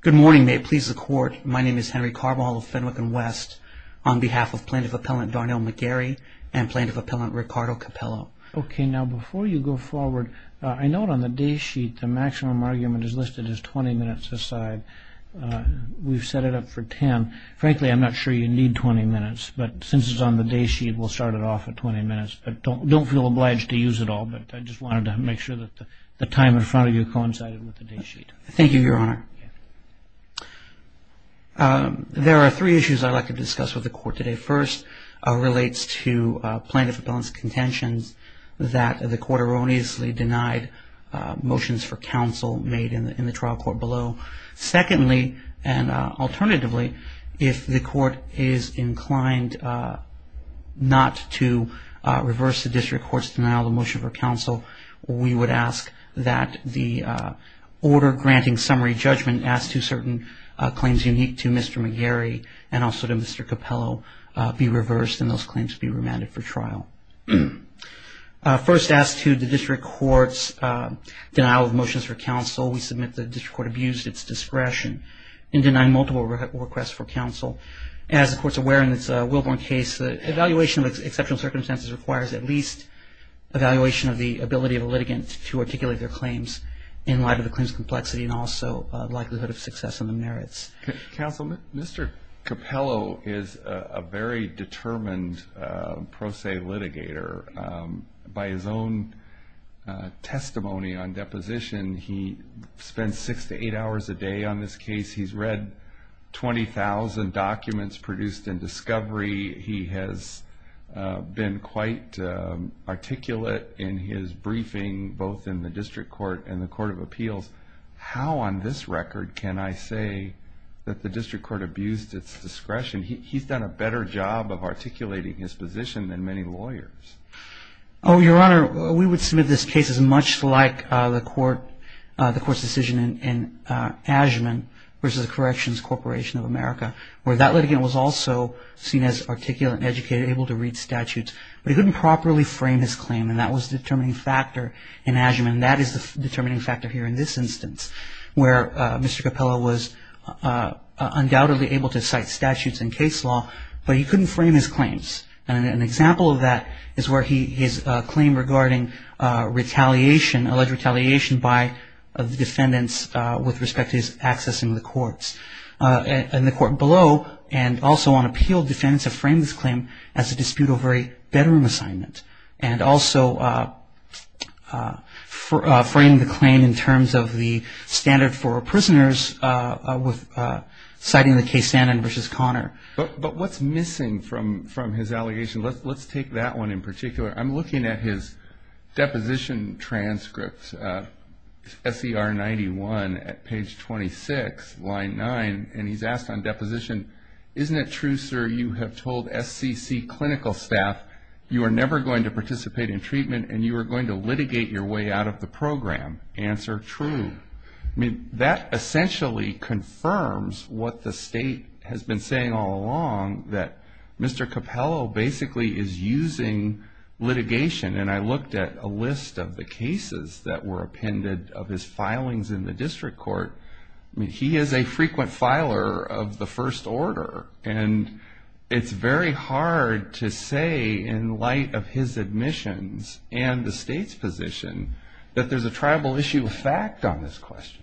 Good morning. May it please the Court, my name is Henry Carbajal of Fenwick & West on behalf of Plaintiff Appellant Darnell McGarry and Plaintiff Appellant Ricardo Capello. Okay, now before you go forward, I note on the day sheet the maximum argument is listed as 20 minutes aside. We've set it up for 10. Frankly, I'm not sure you need 20 minutes, but since it's on the day sheet, we'll start it off at 20 minutes, but don't feel obliged to use it all, but I just wanted to make sure that the time in front of you coincided with the day sheet. Thank you, Your Honor. There are three issues I'd like to discuss with the Court today. First relates to Plaintiff Appellant's contentions that the Court erroneously denied motions for counsel made in the trial court below. Secondly, and alternatively, if the Court is inclined not to reverse the District Court's denial of motion for counsel, we would ask that the order granting summary judgment as to certain claims unique to Mr. McGarry and also to Mr. Capello be reversed and those claims be remanded for trial. First as to the District Court's denial of motions for counsel, we submit the District Court abused its discretion in denying multiple requests for counsel. As the Court's aware in its Wilburn case, the evaluation of exceptional circumstances requires at least evaluation of the ability of a litigant to articulate their claims in light of the claims' complexity and also likelihood of success in the merits. Counsel, Mr. Capello is a very determined pro se litigator. By his own testimony on deposition, he spends six to eight hours a day on this case. He's read 20,000 documents produced in discovery. He has been quite articulate in his briefing both in the District Court and the Court of Appeals. How on this record can I say that the District Court abused its discretion? He's done a better job of articulating his position than many lawyers. Oh, Your Honor, we would submit this case as much like the Court's decision in Ashman versus the Corrections Corporation of America where that litigant was also seen as articulate and educated, able to read statutes, but he couldn't properly frame his claim, and that was the determining factor in Ashman. That is the determining factor here in this instance where Mr. Capello was undoubtedly able to cite statutes and case law, but he couldn't frame his claims. An example of that is where his claim regarding retaliation, alleged retaliation by the defendants with respect to his accessing the courts. In the court below and also on appeal, defendants have framed this claim as a dispute over a bedroom assignment and also framed the claim in terms of the standard for prisoners with citing the case Stanton versus Connor. But what's missing from his allegation? Let's take that one in particular. I'm looking at his deposition transcript, SCR 91 at page 26, line 9, and he's asked on deposition, isn't it true, sir, you have told SCC clinical staff you are never going to participate in treatment and you are going to litigate your way out of the program? Answer, true. That essentially confirms what the state has been saying all along that Mr. Capello basically is using litigation, and I looked at a list of the cases that were appended of his filings in the district court. He is a frequent filer of the first order, and it's very hard to say in light of his admissions and the state's position that there's a tribal issue of fact on this question.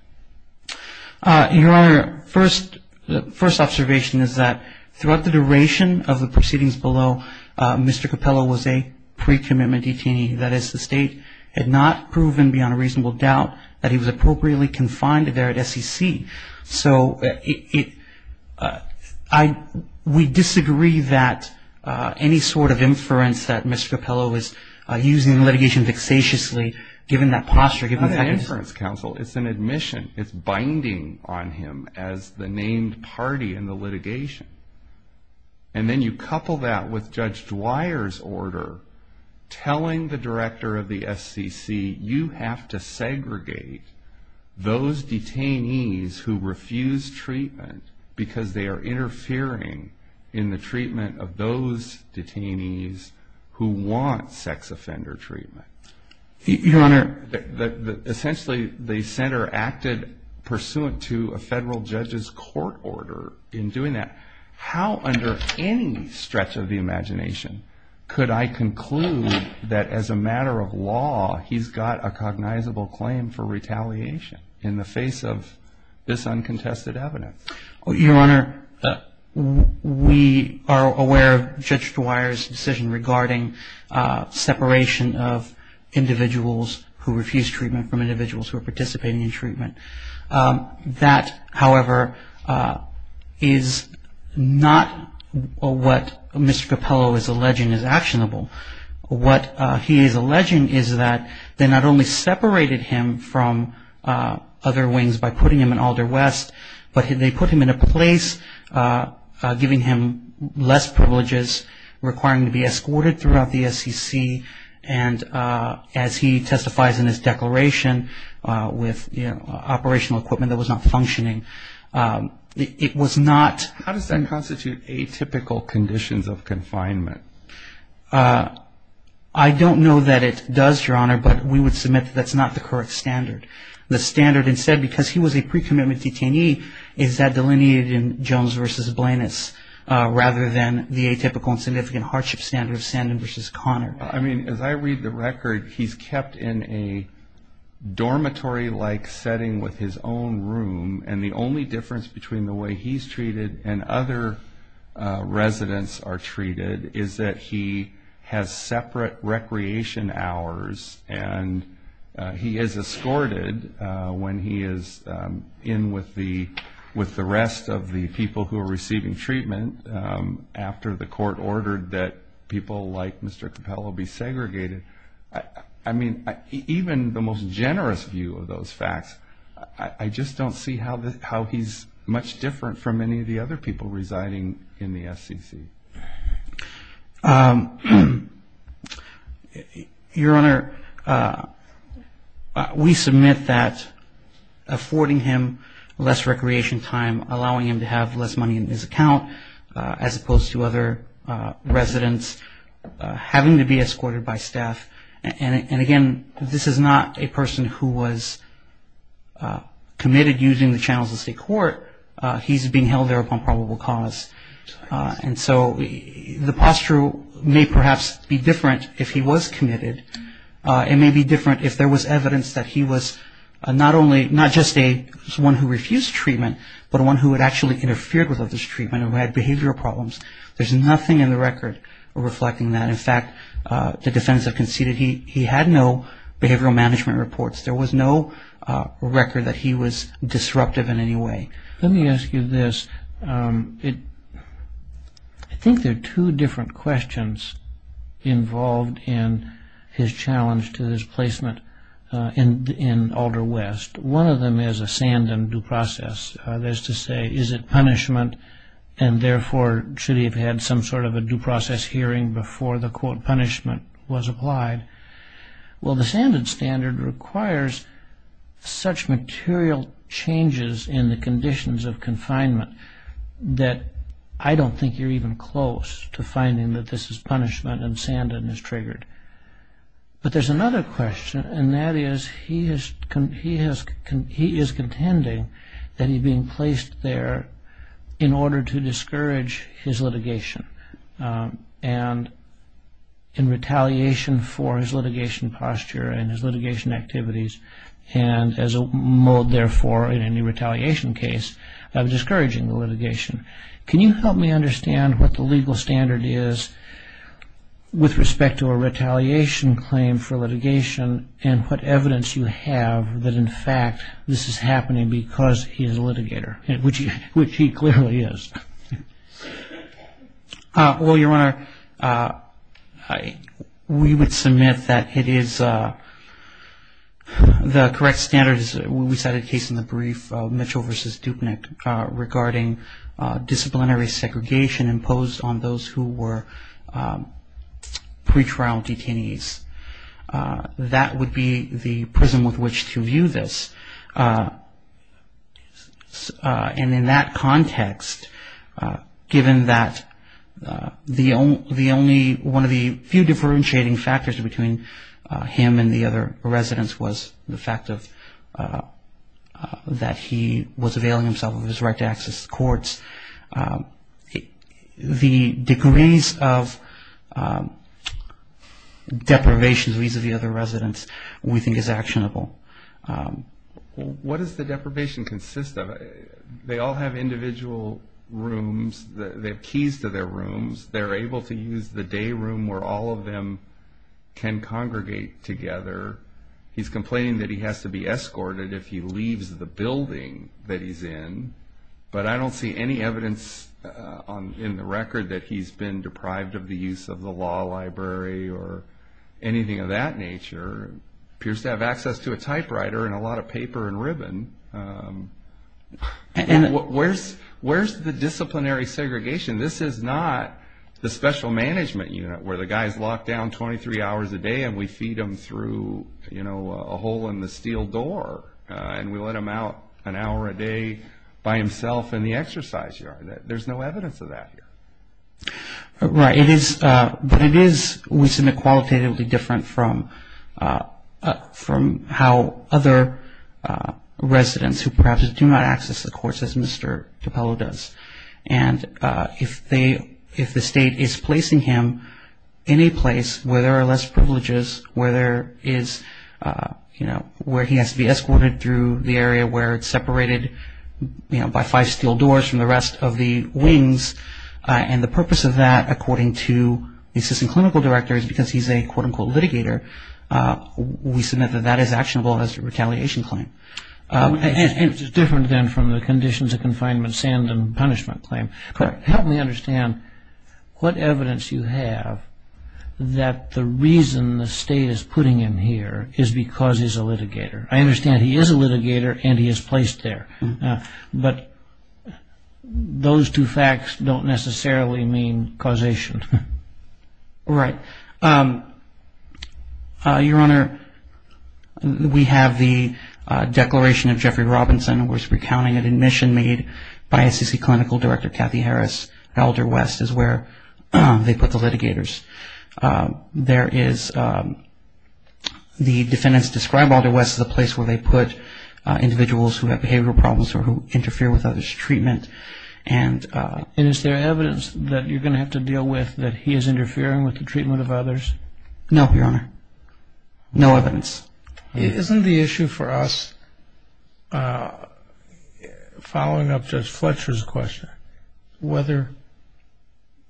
Your Honor, the first observation is that throughout the duration of the proceedings below, Mr. Capello was a pre-commitment detainee. That is, the state had not proven beyond a reasonable doubt that he was appropriately confined there at SCC. So we disagree that any sort of inference that Mr. Capello is using litigation vexatiously, given that posture, given the fact that it's an admission. It's binding on him as the named party in the litigation. And then you couple that with Judge Dwyer's order telling the director of the SCC, you have to segregate those detainees who refuse treatment because they are interfering in the treatment of those detainees who want sex offender treatment. Your Honor. Essentially, the center acted pursuant to a federal judge's court order in doing that. How under any stretch of the imagination could I conclude that as a matter of law, he's got a cognizable claim for retaliation in the face of this uncontested evidence? Your Honor, we are aware of Judge Dwyer's decision regarding separation of individuals who refuse treatment from individuals who are participating in treatment. That, however, is not what Mr. Capello is alleging is actionable. What he is alleging is that they not only separated him from other wings by putting him in Alder West, but they put him in a place giving him less privileges requiring him to be escorted throughout the SCC. And as he testifies in his declaration with operational equipment that was not functioning, it was not. How does that constitute atypical conditions of confinement? I don't know that it does, Your Honor, but we would submit that that's not the correct standard. The standard instead, because he was a pre-commitment detainee, is that delineated in Jones v. Blanus rather than the atypical and significant hardship standard of Sandin v. Connor. I mean, as I read the record, he's kept in a dormitory-like setting with his own room, and the only difference between the way he's treated and other residents are treated is that he has separate recreation hours and he is escorted when he is in with the rest of the people who are receiving treatment after the court ordered that people like Mr. Capello be segregated. I mean, even the most generous view of those facts, I just don't see how he's much different from any of the other people residing in the FCC. Your Honor, we submit that affording him less recreation time, allowing him to have less money in his account, as opposed to other residents having to be escorted by staff. And again, this is not a person who was committed using the channels of state court. He's being held there upon probable cause. And so the posture may perhaps be different if he was committed. It may be different if there was evidence that he was not just one who refused treatment, but one who had actually interfered with others' treatment and had behavioral problems. There's nothing in the record reflecting that. In fact, the defendants have conceded he had no behavioral management reports. There was no record that he was disruptive in any way. Let me ask you this. I think there are two different questions involved in his challenge to his placement in Alder West. One of them is a sanded due process. That is to say, is it punishment, and therefore, should he have had some sort of a due process hearing before the, quote, punishment was applied? Well, the sanded standard requires such material changes in the conditions of confinement that I don't think you're even close to finding that this is punishment and sanded is triggered. But there's another question, and that is he is contending that he'd been placed there in order to discourage his litigation. And in retaliation for his litigation posture and his litigation activities, and as a mode, therefore, in any retaliation case of discouraging the litigation, can you help me understand what the legal standard is with respect to a retaliation claim for litigation and what evidence you have that, in fact, this is happening because he is a litigator, which he clearly is? Well, Your Honor, we would submit that it is the correct standard. We cited a case in the brief, Mitchell v. Dupnick, regarding disciplinary segregation imposed on those who were pretrial detainees. That would be the prism with which to view this. And in that context, given that the only one of the few differentiating factors between him and the other residents was the fact that he was availing himself of his right to access the courts, the degrees of deprivation vis-à-vis other residents we think is actionable. What does the deprivation consist of? They all have individual rooms. They have keys to their rooms. They're able to use the day room where all of them can congregate together. He's complaining that he has to be escorted if he leaves the building that he's in, but I don't see any evidence in the record that he's been deprived of the use of the law library or anything of that nature. He appears to have access to a typewriter and a lot of paper and ribbon. Where's the disciplinary segregation? This is not the special management unit where the guy's locked down 23 hours a day and we feed him through a hole in the steel door, and we let him out an hour a day by himself in the exercise yard. There's no evidence of that here. Right, but it is, we submit, qualitatively different from how other residents who perhaps do not access the courts as Mr. Capello does. And if the state is placing him in a place where there are less privileges, where there is, you know, where he has to be escorted through the area where it's separated, you know, by five steel doors from the rest of the wings, and the purpose of that according to the assistant clinical director is because he's a, quote, unquote, litigator, we submit that that is actionable as a retaliation claim. And it's different then from the conditions of confinement, sand, and punishment claim. Correct. Help me understand what evidence you have that the reason the state is putting him here is because he's a litigator. I understand he is a litigator and he is placed there. But those two facts don't necessarily mean causation. Right. Your Honor, we have the declaration of Jeffrey Robinson, and we're recounting an admission made by ACC clinical director Kathy Harris. Elder West is where they put the litigators. There is, the defendants describe Elder West as a place where they put individuals who have behavioral problems or who interfere with others' treatment. And is there evidence that you're going to have to deal with that he is interfering with the treatment of others? No, Your Honor. No evidence. Isn't the issue for us, following up Judge Fletcher's question, whether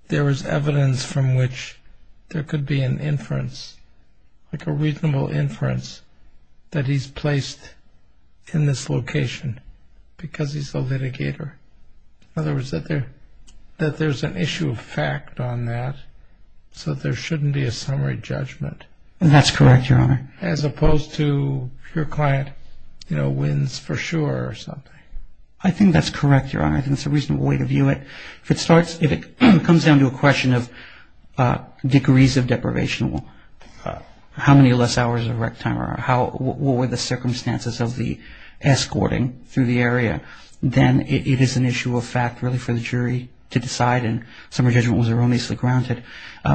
there is evidence from which there could be an inference, like a reasonable inference that he's placed in this location because he's a litigator? In other words, that there's an issue of fact on that, so there shouldn't be a summary judgment. That's correct, Your Honor. As opposed to your client wins for sure or something. I think that's correct, Your Honor. I think it's a reasonable way to view it. If it comes down to a question of degrees of deprivation, how many less hours of rec time, or what were the circumstances of the escorting through the area, then it is an issue of fact really for the jury to decide, and summary judgment was erroneously grounded.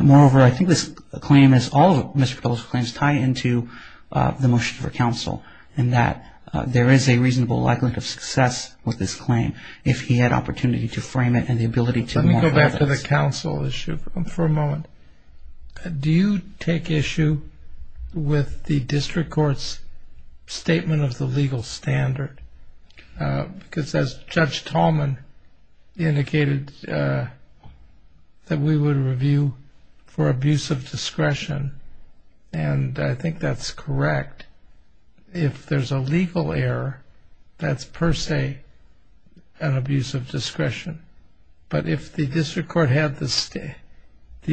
Moreover, I think this claim, as all of Mr. Patel's claims, tie into the motion for counsel, in that there is a reasonable likelihood of success with this claim if he had opportunity to frame it and the ability to modify it. Let me go back to the counsel issue for a moment. Do you take issue with the district court's statement of the legal standard? Because as Judge Tallman indicated, that we would review for abuse of discretion, and I think that's correct. If there's a legal error, that's per se an abuse of discretion. But if the district court had the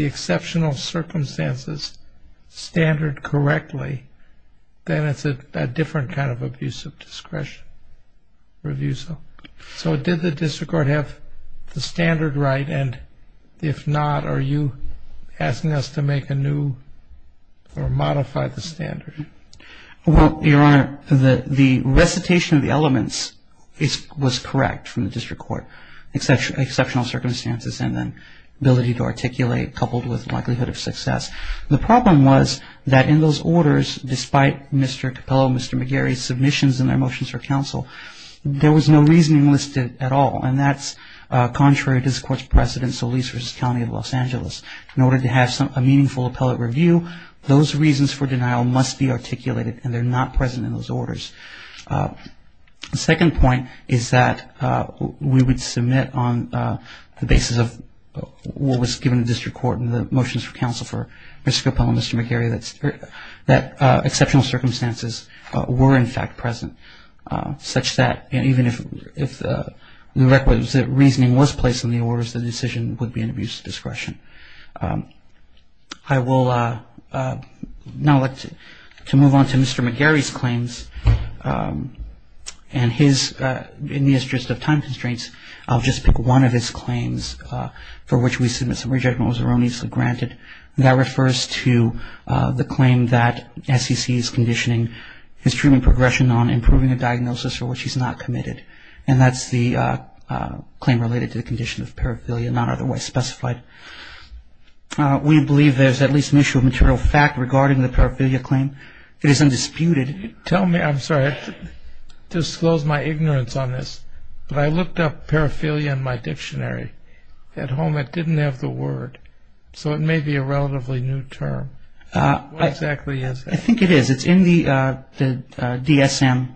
exceptional circumstances standard correctly, then it's a different kind of abuse of discretion review. So did the district court have the standard right, and if not are you asking us to make a new or modify the standard? Well, Your Honor, the recitation of the elements was correct from the district court, exceptional circumstances and then ability to articulate coupled with likelihood of success. The problem was that in those orders, despite Mr. Capello and Mr. McGarry's submissions in their motions for counsel, there was no reasoning listed at all, and that's contrary to the court's precedent, Solis v. County of Los Angeles. In order to have a meaningful appellate review, those reasons for denial must be articulated, and they're not present in those orders. The second point is that we would submit on the basis of what was given to the district court in the motions for counsel for Mr. Capello and Mr. McGarry that exceptional circumstances were in fact present, such that even if the requisite reasoning was placed in the orders, the decision would be an abuse of discretion. I would now like to move on to Mr. McGarry's claims. And in the interest of time constraints, I'll just pick one of his claims for which we submit summary judgment was erroneously granted, and that refers to the claim that SEC is conditioning his treatment progression on improving a diagnosis for which he's not committed. And that's the claim related to the condition of paraphilia, not otherwise specified. We believe there's at least an issue of material fact regarding the paraphilia claim. It is undisputed. I'm sorry, I disclosed my ignorance on this, but I looked up paraphilia in my dictionary. At home it didn't have the word, so it may be a relatively new term. What exactly is it? I think it is. It's in the DSM,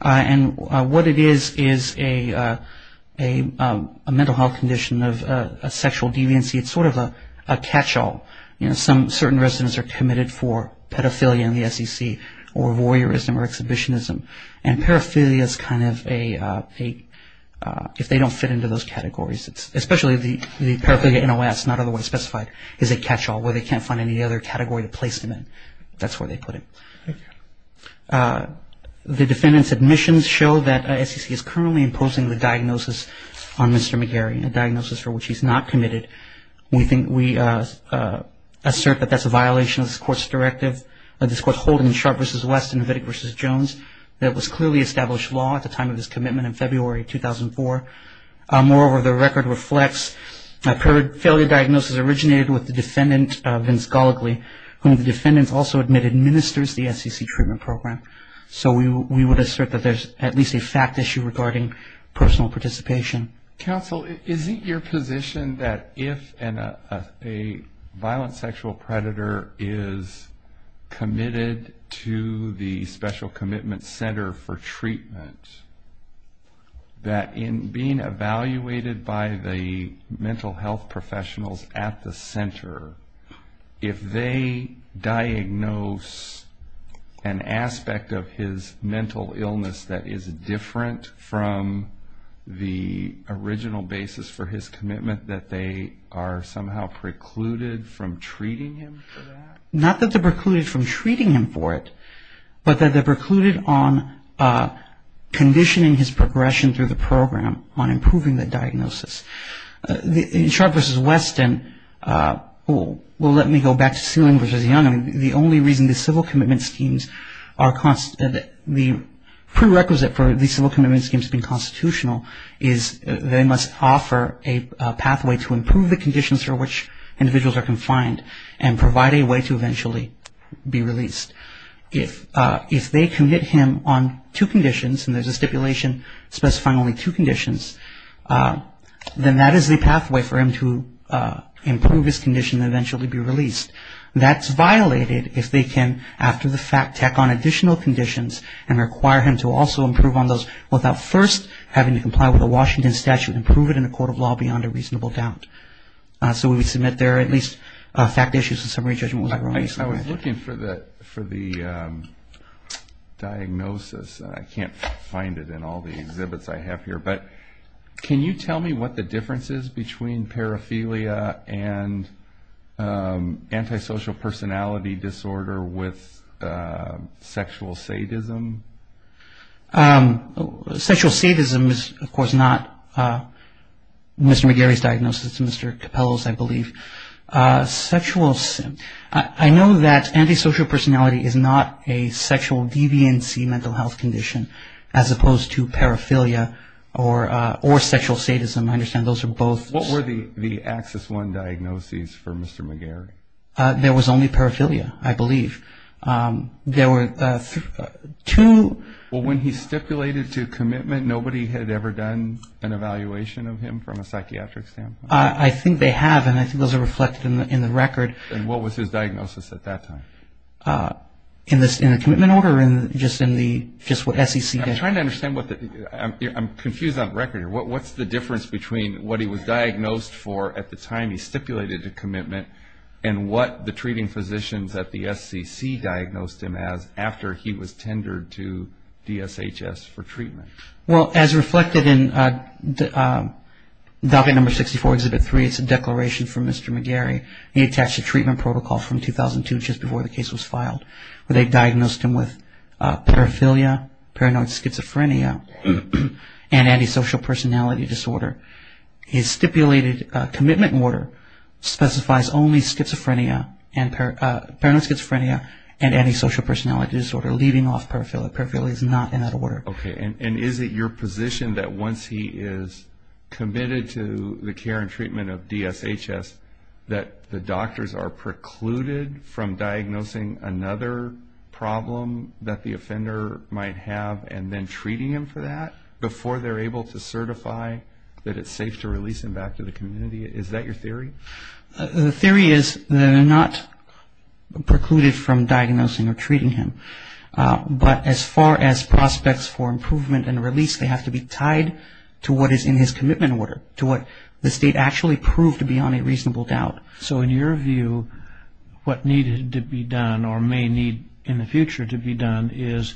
and what it is is a mental health condition of a sexual deviancy. It's sort of a catch-all. Certain residents are committed for pedophilia in the SEC or voyeurism or exhibitionism, and paraphilia is kind of a, if they don't fit into those categories, especially the paraphilia NOS, not otherwise specified, is a catch-all where they can't find any other category to place them in. That's where they put it. The defendant's admissions show that SEC is currently imposing the diagnosis on Mr. McGarry, a diagnosis for which he's not committed. We think we assert that that's a violation of this court's directive, this court's Holden and Sharp v. West and Vidic v. Jones, that it was clearly established law at the time of this commitment in February 2004. Moreover, the record reflects a failure diagnosis originated with the defendant, Vince Gallagly, whom the defendant also admitted ministers the SEC treatment program. So we would assert that there's at least a fact issue regarding personal participation. Counsel, is it your position that if a violent sexual predator is committed to the Special Commitment Center for treatment, that in being evaluated by the mental health professionals at the center, if they diagnose an aspect of his mental illness that is different from the original basis for his commitment, that they are somehow precluded from treating him for that? Not that they're precluded from treating him for it, but that they're precluded on conditioning his progression through the program on improving the diagnosis. In Sharp v. West and let me go back to Sealing v. Young, the only reason the civil commitment schemes are the prerequisite for the civil commitment schemes being constitutional is they must offer a pathway to improve the conditions for which individuals are confined and provide a way to eventually be released. If they commit him on two conditions, and there's a stipulation specifying only two conditions, then that is the pathway for him to improve his condition and eventually be released. That's violated if they can, after the fact, tack on additional conditions and require him to also improve on those without first having to comply with a Washington statute and prove it in a court of law beyond a reasonable doubt. So we would submit there are at least fact issues and summary judgments. I was looking for the diagnosis, and I can't find it in all the exhibits I have here, but can you tell me what the difference is between paraphilia and antisocial personality disorder with sexual sadism? Sexual sadism is, of course, not Mr. McGarry's diagnosis. It's Mr. Capello's, I believe. I know that antisocial personality is not a sexual deviancy mental health condition as opposed to paraphilia or sexual sadism. I understand those are both. What were the axis one diagnoses for Mr. McGarry? There was only paraphilia, I believe. There were two. Well, when he stipulated to commitment, nobody had ever done an evaluation of him from a psychiatric standpoint? I think they have, and I think those are reflected in the record. And what was his diagnosis at that time? In the commitment order or just what SEC did? I'm trying to understand. I'm confused on record here. What's the difference between what he was diagnosed for at the time he stipulated a commitment and what the treating physicians at the SEC diagnosed him as after he was tendered to DSHS for treatment? Well, as reflected in document number 64, exhibit 3, it's a declaration from Mr. McGarry. He attached a treatment protocol from 2002, just before the case was filed, where they diagnosed him with paraphilia, paranoid schizophrenia, and antisocial personality disorder. His stipulated commitment order specifies only paranoid schizophrenia and antisocial personality disorder, leaving off paraphilia. Paraphilia is not in that order. Okay. And is it your position that once he is committed to the care and treatment of DSHS, that the doctors are precluded from diagnosing another problem that the offender might have and then treating him for that before they're able to certify that it's safe to release him back to the community? Is that your theory? The theory is they're not precluded from diagnosing or treating him. But as far as prospects for improvement and release, they have to be tied to what is in his commitment order, to what the state actually proved to be on a reasonable doubt. So in your view, what needed to be done or may need in the future to be done is,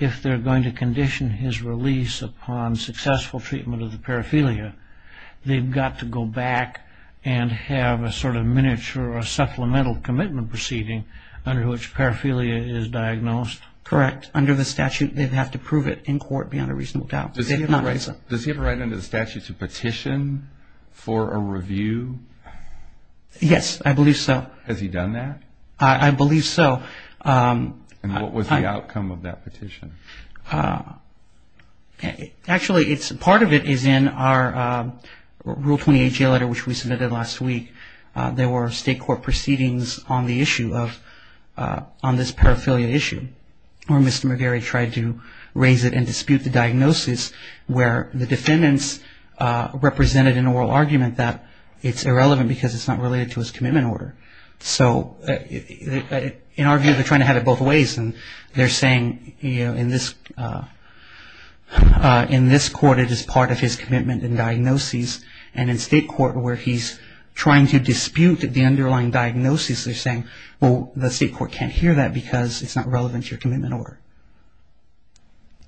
if they're going to condition his release upon successful treatment of the paraphilia, they've got to go back and have a sort of miniature or supplemental commitment proceeding under which paraphilia is diagnosed? Correct. Under the statute, they'd have to prove it in court beyond a reasonable doubt. Does he have a right under the statute to petition for a review? Yes, I believe so. Has he done that? I believe so. And what was the outcome of that petition? Actually, part of it is in our Rule 28 jail letter, which we submitted last week. There were state court proceedings on this paraphilia issue where Mr. McGarry tried to raise it and dispute the diagnosis where the defendants represented an oral argument that it's irrelevant because it's not related to his commitment order. So in our view, they're trying to have it both ways, and they're saying in this court it is part of his commitment and diagnosis, and in state court where he's trying to dispute the underlying diagnosis, they're saying, well, the state court can't hear that because it's not relevant to your commitment order.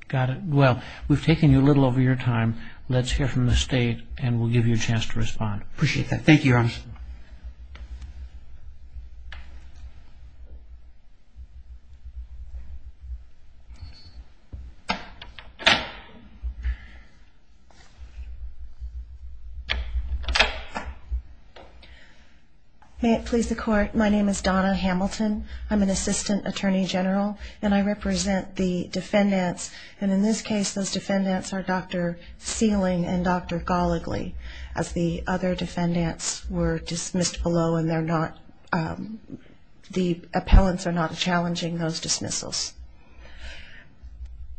Got it. Well, we've taken you a little over your time. Let's hear from the state, and we'll give you a chance to respond. Appreciate that. Thank you, Your Honor. May it please the Court, my name is Donna Hamilton. I'm an assistant attorney general, and I represent the defendants, and in this case those defendants are Dr. Sealing and Dr. Goligly, as the other defendants were dismissed below, and the appellants are not challenging those dismissals.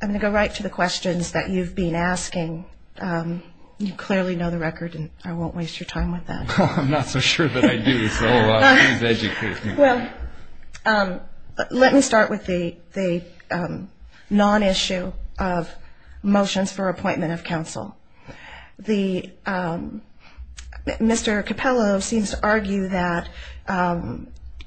I'm going to go right to the questions that you've been asking. You clearly know the record, and I won't waste your time with that. I'm not so sure that I do, so please educate me. Well, let me start with the non-issue of motions for appointment of counsel. Mr. Capello seems to argue that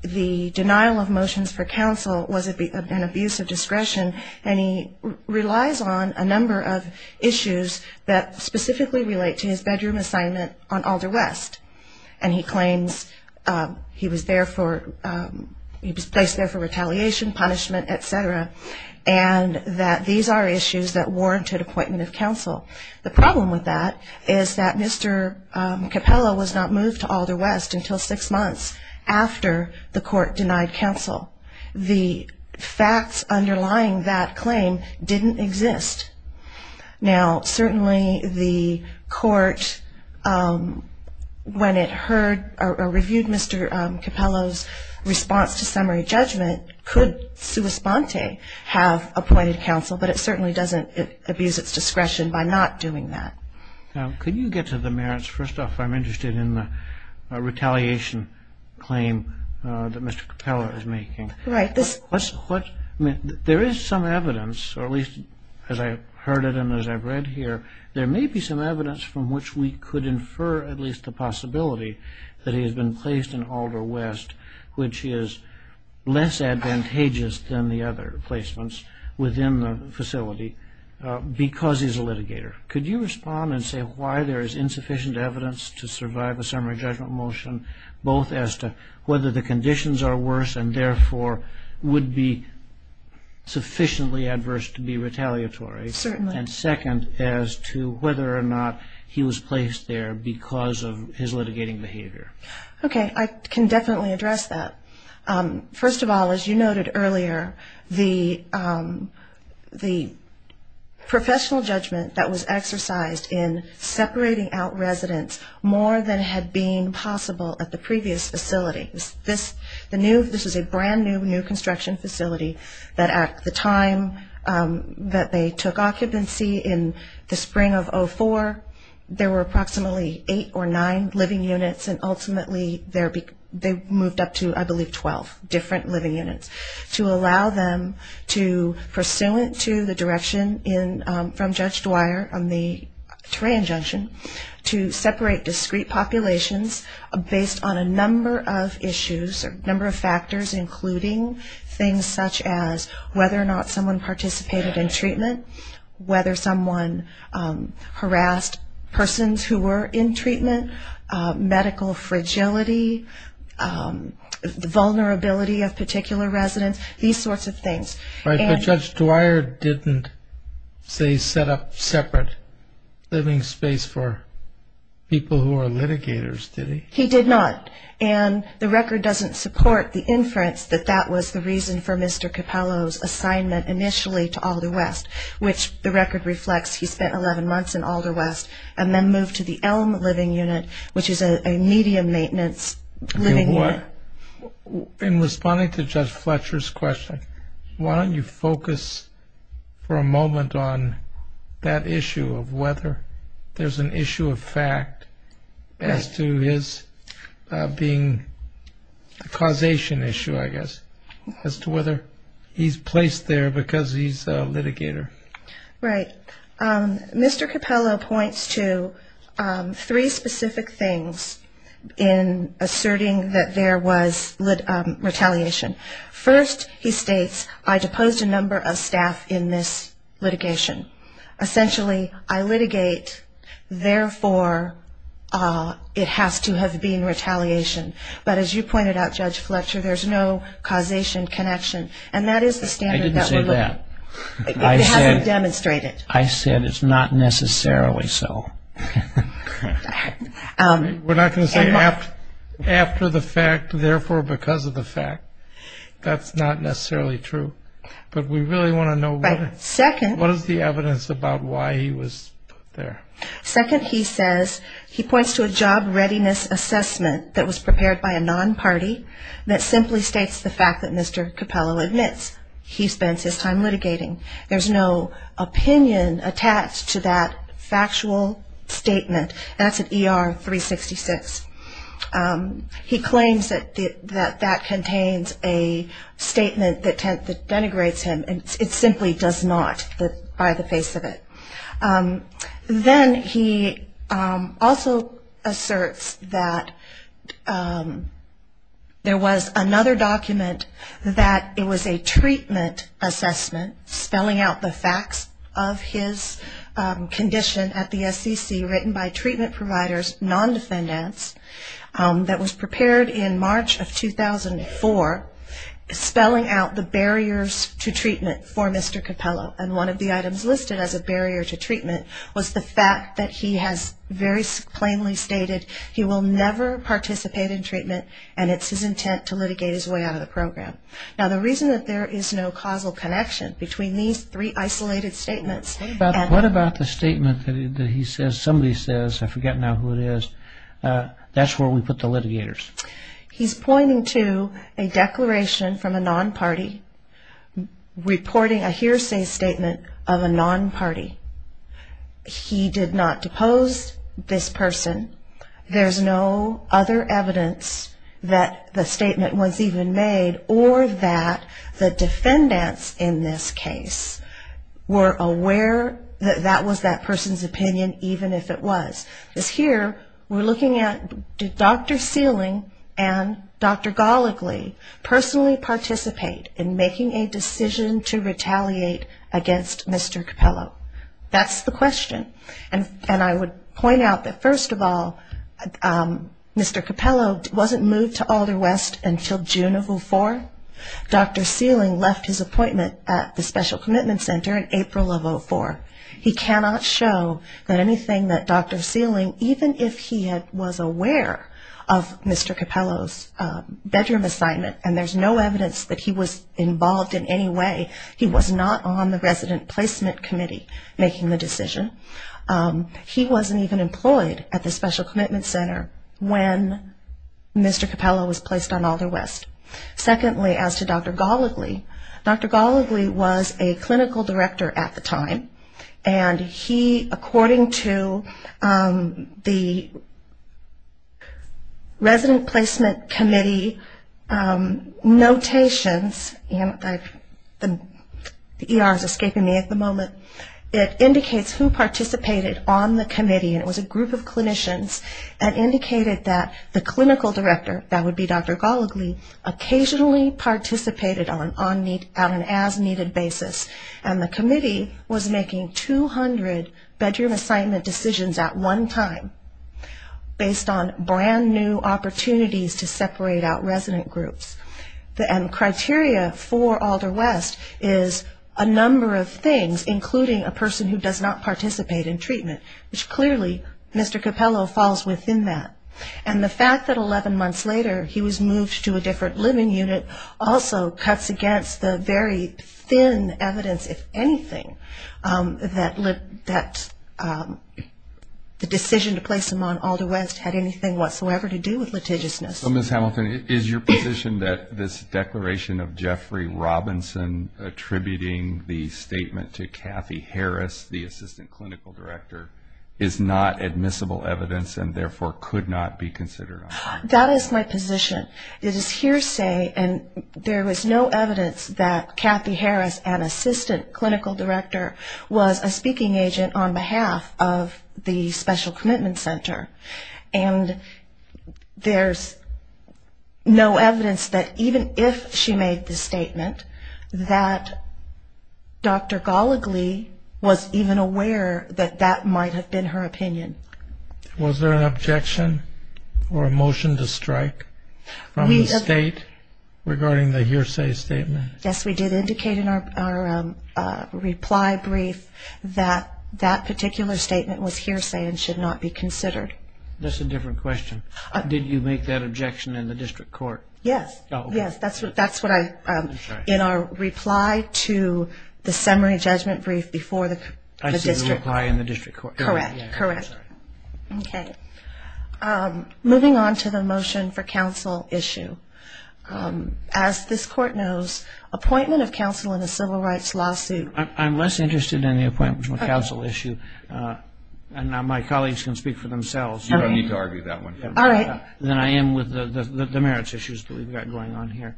the denial of motions for counsel was an abuse of discretion, and he relies on a number of issues that specifically relate to his bedroom assignment on Alder West, and he claims he was placed there for retaliation, punishment, et cetera, and that these are issues that warranted appointment of counsel. The problem with that is that Mr. Capello was not moved to Alder West until six months after the court denied counsel. The facts underlying that claim didn't exist. Now, certainly the court, when it heard or reviewed Mr. Capello's response to summary judgment, could sui sponte have appointed counsel, but it certainly doesn't abuse its discretion by not doing that. Now, could you get to the merits? First off, I'm interested in the retaliation claim that Mr. Capello is making. Right. There is some evidence, or at least as I've heard it and as I've read here, there may be some evidence from which we could infer at least the possibility that he has been placed in Alder West, which is less advantageous than the other placements within the facility, because he's a litigator. Could you respond and say why there is insufficient evidence to survive a summary judgment motion, both as to whether the conditions are worse and therefore would be sufficiently adverse to be retaliatory. Certainly. And second, as to whether or not he was placed there because of his litigating behavior. Okay. I can definitely address that. First of all, as you noted earlier, the professional judgment that was exercised in separating out residents more than had been possible at the previous facility. This is a brand new construction facility that at the time that they took occupancy in the spring of 2004, there were approximately eight or nine living units and ultimately they moved up to, I believe, 12 different living units. To allow them to, pursuant to the direction from Judge Dwyer on the terrain junction, to separate discrete populations based on a number of issues, a number of factors, including things such as whether or not someone participated in treatment, whether someone harassed persons who were in treatment, medical fragility, the vulnerability of particular residents, these sorts of things. But Judge Dwyer didn't, say, set up separate living space for people who are litigators, did he? He did not. And the record doesn't support the inference that that was the reason for Mr. Capello's assignment initially to Alder West, which the record reflects he spent 11 months in Alder West and then moved to the Elm living unit, which is a medium-maintenance living unit. In responding to Judge Fletcher's question, why don't you focus for a moment on that issue of whether there's an issue of fact as to his being a causation issue, I guess, as to whether he's placed there because he's a litigator. Right. Mr. Capello points to three specific things in asserting that there was retaliation. First, he states, I deposed a number of staff in this litigation. Essentially, I litigate, therefore, it has to have been retaliation. But as you pointed out, Judge Fletcher, there's no causation connection. And that is the standard that we're looking at. I didn't say that. It hasn't demonstrated. I said it's not necessarily so. We're not going to say after the fact, therefore, because of the fact. That's not necessarily true. But we really want to know what is the evidence about why he was there. Second, he says, he points to a job readiness assessment that was prepared by a non-party that simply states the fact that Mr. Capello admits he spends his time litigating. There's no opinion attached to that factual statement. That's an ER-366. He claims that that contains a statement that denigrates him, and it simply does not by the face of it. Then he also asserts that there was another document that it was a treatment assessment, spelling out the facts of his condition at the SEC written by treatment providers, non-defendants, that was prepared in March of 2004, spelling out the barriers to treatment for Mr. Capello. And one of the items listed as a barrier to treatment was the fact that he has very plainly stated he will never participate in treatment, and it's his intent to litigate his way out of the program. Now, the reason that there is no causal connection between these three isolated statements... What about the statement that he says, somebody says, I forget now who it is, that's where we put the litigators? He's pointing to a declaration from a non-party reporting a hearsay statement of a non-party. He did not depose this person. There's no other evidence that the statement was even made or that the defendants in this case were aware that that was that person's opinion, even if it was. Because here we're looking at did Dr. Sealing and Dr. Goligly personally participate in making a decision to retaliate against Mr. Capello? That's the question. And I would point out that, first of all, Mr. Capello wasn't moved to Alder West until June of 2004. Dr. Sealing left his appointment at the Special Commitment Center in April of 2004. He cannot show that anything that Dr. Sealing, even if he was aware of Mr. Capello's bedroom assignment and there's no evidence that he was involved in any way, he was not on the resident placement committee making the decision. He wasn't even employed at the Special Commitment Center when Mr. Capello was placed on Alder West. Secondly, as to Dr. Goligly, Dr. Goligly was a clinical director at the time. And he, according to the resident placement committee notations, the ER is escaping me at the moment, it indicates who participated on the committee. And it was a group of clinicians that indicated that the clinical director, that would be Dr. Goligly, occasionally participated on an as-needed basis and the committee was making 200 bedroom assignment decisions at one time based on brand new opportunities to separate out resident groups. And the criteria for Alder West is a number of things, including a person who does not participate in treatment, and Dr. Goligly, Mr. Capello falls within that. And the fact that 11 months later he was moved to a different living unit also cuts against the very thin evidence, if anything, that the decision to place him on Alder West had anything whatsoever to do with litigiousness. So Ms. Hamilton, is your position that this declaration of Jeffrey Robinson attributing the statement to Kathy Harris, is not admissible evidence and therefore could not be considered? That is my position. It is hearsay and there was no evidence that Kathy Harris, an assistant clinical director, was a speaking agent on behalf of the special commitment center. And there's no evidence that even if she made the statement, that Dr. Goligly was even aware that that might have been her opinion. Was there an objection or a motion to strike from the state regarding the hearsay statement? Yes, we did indicate in our reply brief that that particular statement was hearsay and should not be considered. That's a different question. Did you make that objection in the district court? Yes, that's what I, in our reply to the summary judgment brief before the district court. Correct, correct. Okay. Moving on to the motion for counsel issue. As this court knows, appointment of counsel in a civil rights lawsuit. I'm less interested in the appointment of counsel issue and my colleagues can speak for themselves. You don't need to argue that one. Then I am with the merits issues that we've got going on here.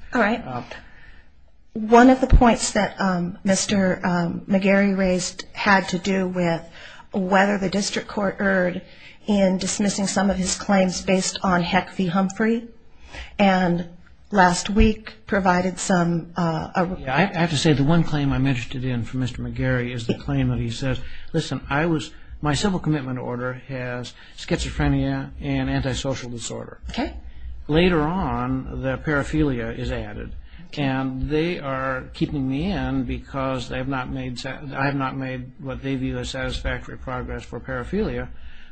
One of the points that Mr. McGarry raised had to do with whether the district court erred in dismissing some of his claims based on Heck v. Humphrey and last week provided some... I have to say the one claim I mentioned it in for Mr. McGarry is the claim that he says, listen, my civil commitment order has schizophrenia and antisocial disorder. Later on, the paraphilia is added and they are keeping me in because I have not made what they view as satisfactory progress for paraphilia,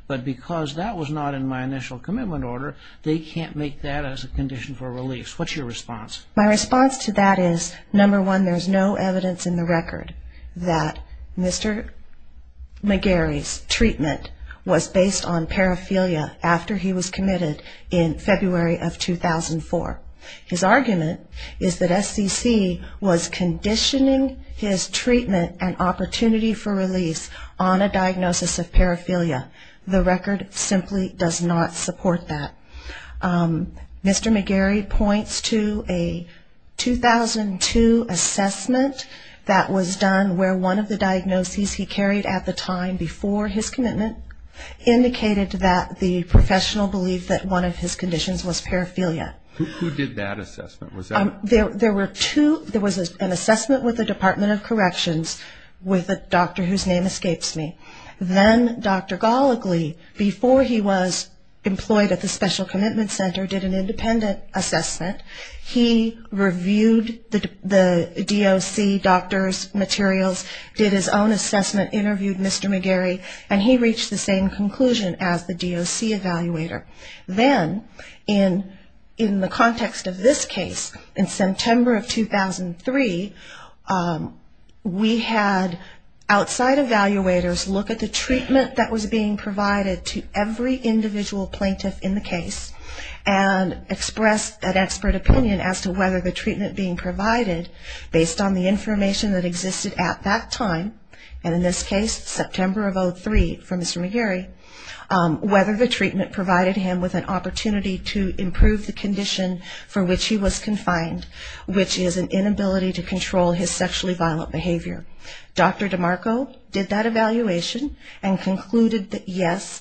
but because that was not in my initial commitment order, they can't make that as a condition for release. What's your response? My response to that is, number one, there's no evidence in the record that Mr. McGarry's treatment was based on paraphilia after he was committed in February of 2004. His argument is that SCC was conditioning his treatment and opportunity for release on a diagnosis of paraphilia. The record simply does not support that. The 2002 assessment that was done where one of the diagnoses he carried at the time before his commitment indicated that the professional believed that one of his conditions was paraphilia. Who did that assessment? There was an assessment with the Department of Corrections with a doctor whose name escapes me. Then Dr. Goligly, before he was employed at the Special Commitment Center, did an independent assessment. He reviewed the DOC doctor's materials, did his own assessment, interviewed Mr. McGarry, and he reached the same conclusion as the DOC evaluator. Then, in the context of this case, in September of 2003, we had outside evaluators looking at the DOC doctor's case and looking at the DOC evaluator's case. They looked at the treatment that was being provided to every individual plaintiff in the case and expressed that expert opinion as to whether the treatment being provided, based on the information that existed at that time, and in this case, September of 2003 for Mr. McGarry, whether the treatment provided him with an opportunity to improve the condition for which he was confined, which is an inability to control his sexually violent behavior. Dr. DeMarco did that evaluation and concluded that, yes,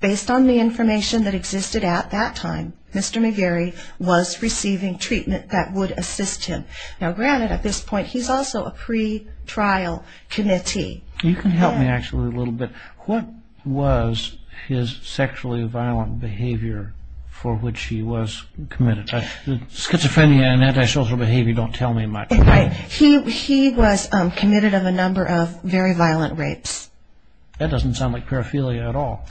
based on the information that existed at that time, Mr. McGarry was receiving treatment that would assist him. Now, granted, at this point, he's also a pretrial committee. You can help me, actually, a little bit. What was his sexually violent behavior for which he was committed? Schizophrenia and antisocial behavior don't tell me much. He was committed of a number of very violent rapes. That doesn't sound like paraphilia at all.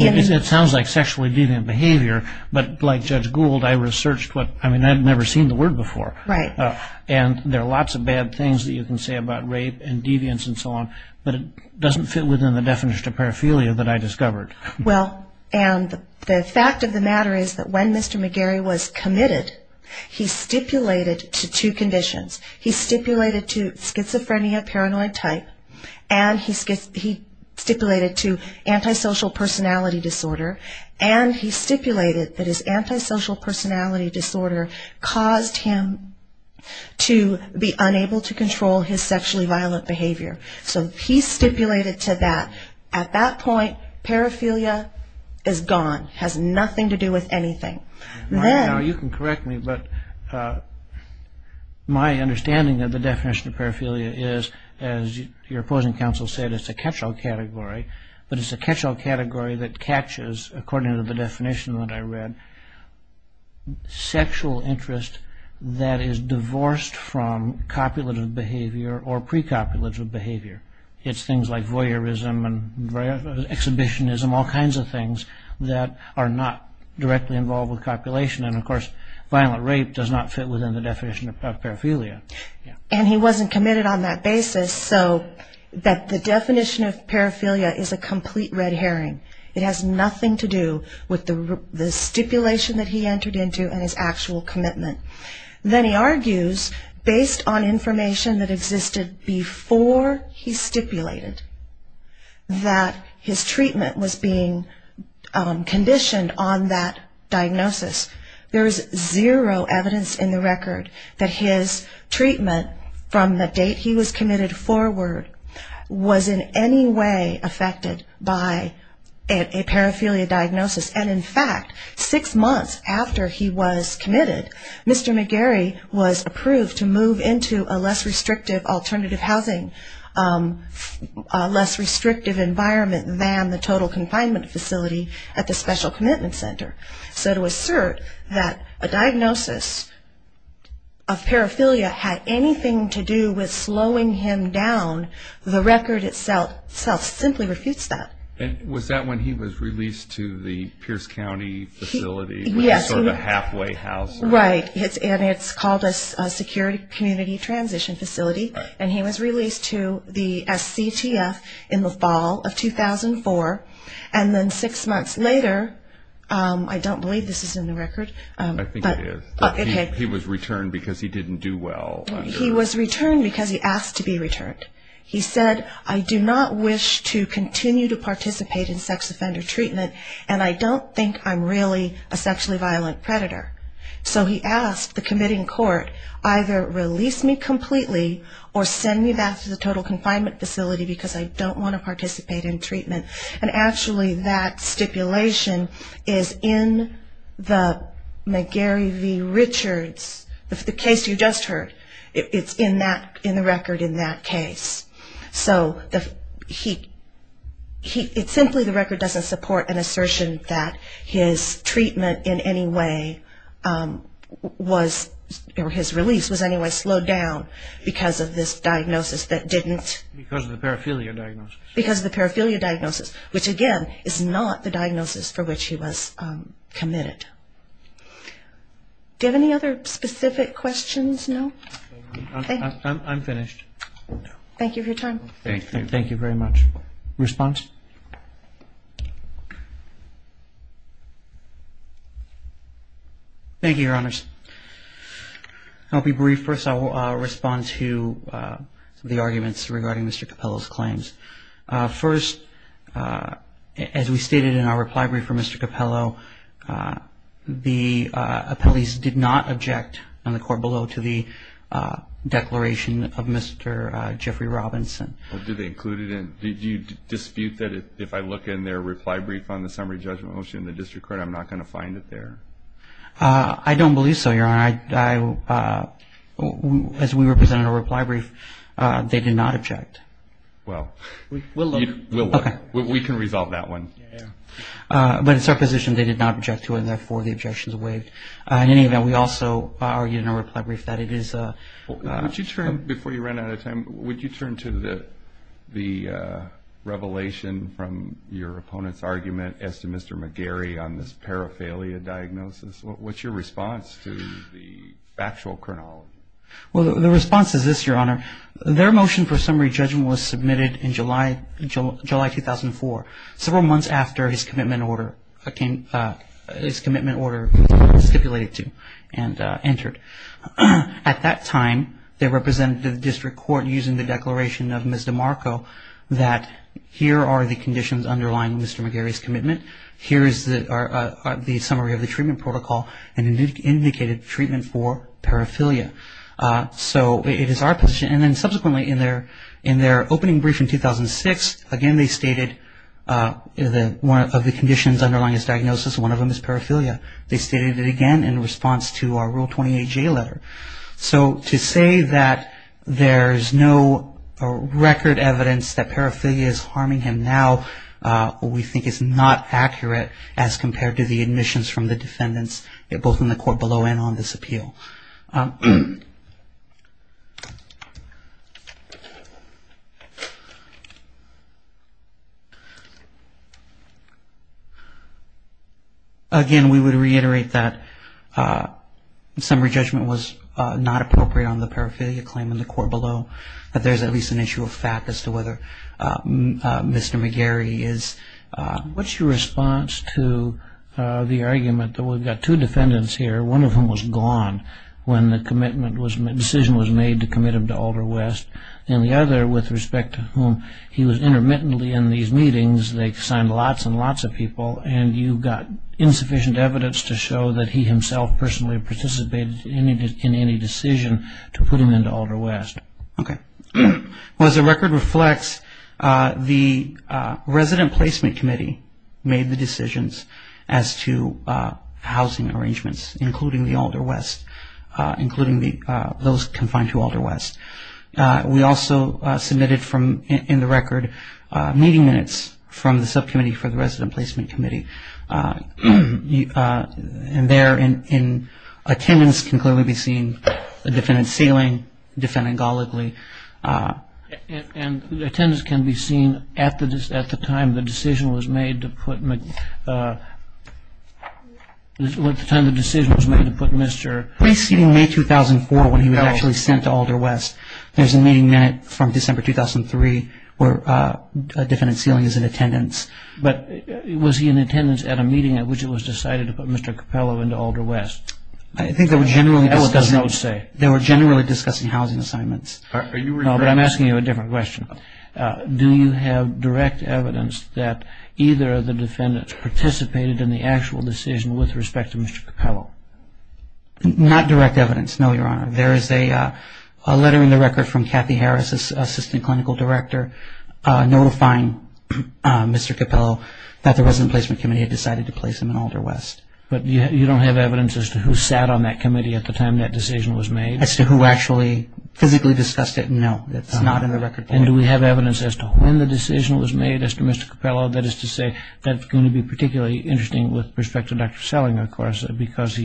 It sounds like sexually deviant behavior, but like Judge Gould, I've never seen the word before. There are lots of bad things that you can say about rape and deviance and so on, but it doesn't fit within the definition of paraphilia that I discovered. The fact of the matter is that when Mr. McGarry was committed, he stipulated to two conditions. He stipulated to schizophrenia, paranoid type, and he stipulated to antisocial personality disorder, and he stipulated that his antisocial personality disorder caused him to be unable to control his sexually violent behavior. So he stipulated to that. At that point, paraphilia is gone. It has nothing to do with anything. You can correct me, but my understanding of the definition of paraphilia is, as your opposing counsel said, it's a catch-all category, but it's a catch-all category that catches, according to the definition that I read, sexual interest that is divorced from copulative behavior or pre-copulative behavior. It's things like voyeurism and exhibitionism, all kinds of things that are not directly involved with copulation, and of course, violent rape does not fit within the definition of paraphilia. And he wasn't committed on that basis, so the definition of paraphilia is a complete red herring. It has nothing to do with the stipulation that he entered into and his actual commitment. Then he argues, based on information that existed before he stipulated that his treatment was being conditioned on that diagnosis, there is zero evidence in the record that his treatment from the date he was committed forward was in any way affected by a paraphilia diagnosis. And in fact, six months after he was committed, Mr. McGarry was approved to move into a less restrictive alternative housing, a less restrictive environment than the total confinement facility at the Special Commitment Center. So to assert that a diagnosis of paraphilia had anything to do with slowing him down, the record itself simply refutes that. And was that when he was released to the Pierce County facility, sort of a halfway housing? Right, and it's called a Security Community Transition Facility, and he was released to the SCTF in the fall of 2004. And then six months later, I don't believe this is in the record. I think it is. He was returned because he didn't do well. He was returned because he asked to be returned. He said, I do not wish to continue to participate in sex offender treatment, and I don't think I'm really a sexually violent predator. So he asked the committing court, either release me completely or send me back to the total confinement facility because I don't want to participate in treatment. And actually that stipulation is in the McGarry v. Richards, the case you just heard. It's in that, in the record in that case. So it's simply the record doesn't support an assertion that his treatment in any way was, or his release was in any way slowed down because of this diagnosis that didn't. Because of the paraphilia diagnosis. Because of the paraphilia diagnosis, which again is not the diagnosis for which he was committed. Do you have any other specific questions? No? I'm finished. Thank you for your time. Thank you very much. Response? Thank you, Your Honors. I'll be brief. First I'll respond to the arguments regarding Mr. Capello's claims. First, as we stated in our reply brief for Mr. Capello, the appellees did not object on the court below to the declaration of Mr. Jeffrey Robinson. Did they include it in, did you dispute that if I look in their reply brief on the summary judgment motion, the district court, I'm not going to find it there? I don't believe so, Your Honor. As we represented in our reply brief, they did not object. Well, we can resolve that one. But it's our position they did not object to, and therefore the objection is waived. In any event, we also argued in our reply brief that it is... Before you run out of time, would you turn to the revelation from your opponent's argument as to Mr. McGarry on this paraphilia diagnosis? What's your response to the factual chronology? Well, the response is this, Your Honor. Their motion for summary judgment was submitted in July 2004, several months after his commitment order was stipulated to and entered. At that time, they represented the district court using the declaration of Ms. DeMarco that here are the conditions underlying Mr. McGarry's commitment. Here is the summary of the treatment protocol and indicated treatment for paraphilia. So it is our position, and then subsequently in their opening brief in 2006, again they stated one of the conditions underlying his diagnosis, one of them is paraphilia. They stated it again in response to our Rule 28J letter. So to say that there's no record evidence that paraphilia is harming him now we think is not accurate. As compared to the admissions from the defendants, both in the court below and on this appeal. Again, we would reiterate that summary judgment was not appropriate on the paraphilia claim in the court below. That there's at least an issue of fact as to whether Mr. McGarry is... I'm sorry, I'm not sure I'm getting this right. I'm just trying to get a sense of the response to the argument that we've got two defendants here, one of whom was gone when the decision was made to commit him to Alder West. And the other with respect to whom he was intermittently in these meetings, they signed lots and lots of people, and you've got insufficient evidence to show that he himself personally participated in any decision to put him into Alder West. Well, as the record reflects, the Resident Placement Committee made the decisions as to housing arrangements, including the Alder West, including those confined to Alder West. We also submitted in the record meeting minutes from the subcommittee for the Resident Placement Committee. And there in attendance can clearly be seen a defendant sealing, defendant golligly. And attendance can be seen at the time the decision was made to put Mr. McGarry. Preceding May 2004, when he was actually sent to Alder West, there's a meeting minute from December 2003 where a defendant sealing is in attendance. But was he in attendance at a meeting at which it was decided to put Mr. Capello into Alder West? I think they were generally discussing housing assignments. No, but I'm asking you a different question. Do you have direct evidence that either of the defendants participated in the actual decision with respect to Mr. Capello? Not direct evidence, no, Your Honor. There is a letter in the record from Kathy Harris, Assistant Clinical Director, notifying Mr. Capello that the Resident Placement Committee had decided to place him in Alder West. But you don't have evidence as to who sat on that committee at the time that decision was made? As to who actually physically discussed it? No, it's not in the record. And do we have evidence as to when the decision was made as to Mr. Capello? That is to say, that's going to be particularly interesting with respect to Dr. Sellinger, of course, because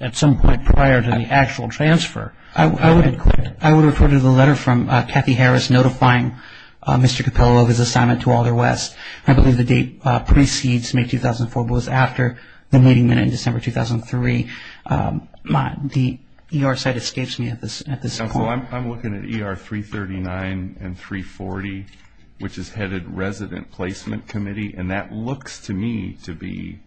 at some point prior to the actual transfer. I would refer to the letter from Kathy Harris notifying Mr. Capello of his assignment to Alder West. I believe the date precedes May 2004, but it was after the meeting minute in December 2003. The ER site escapes me at this point. I'm looking at ER 339 and 340, which is headed Resident Placement Committee, and that looks to me to be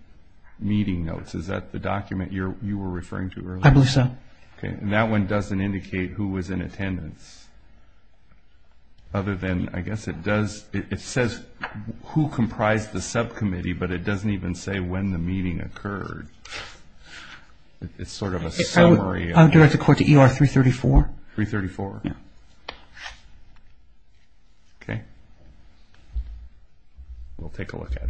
meeting notes. Is that the document you were referring to earlier? I believe so. And that one doesn't indicate who was in attendance, other than I guess it does, it says who comprised the subcommittee, but it doesn't even say when the meeting occurred. It's sort of a summary. I would direct the court to ER 334. We'll take a look at it. Thank you.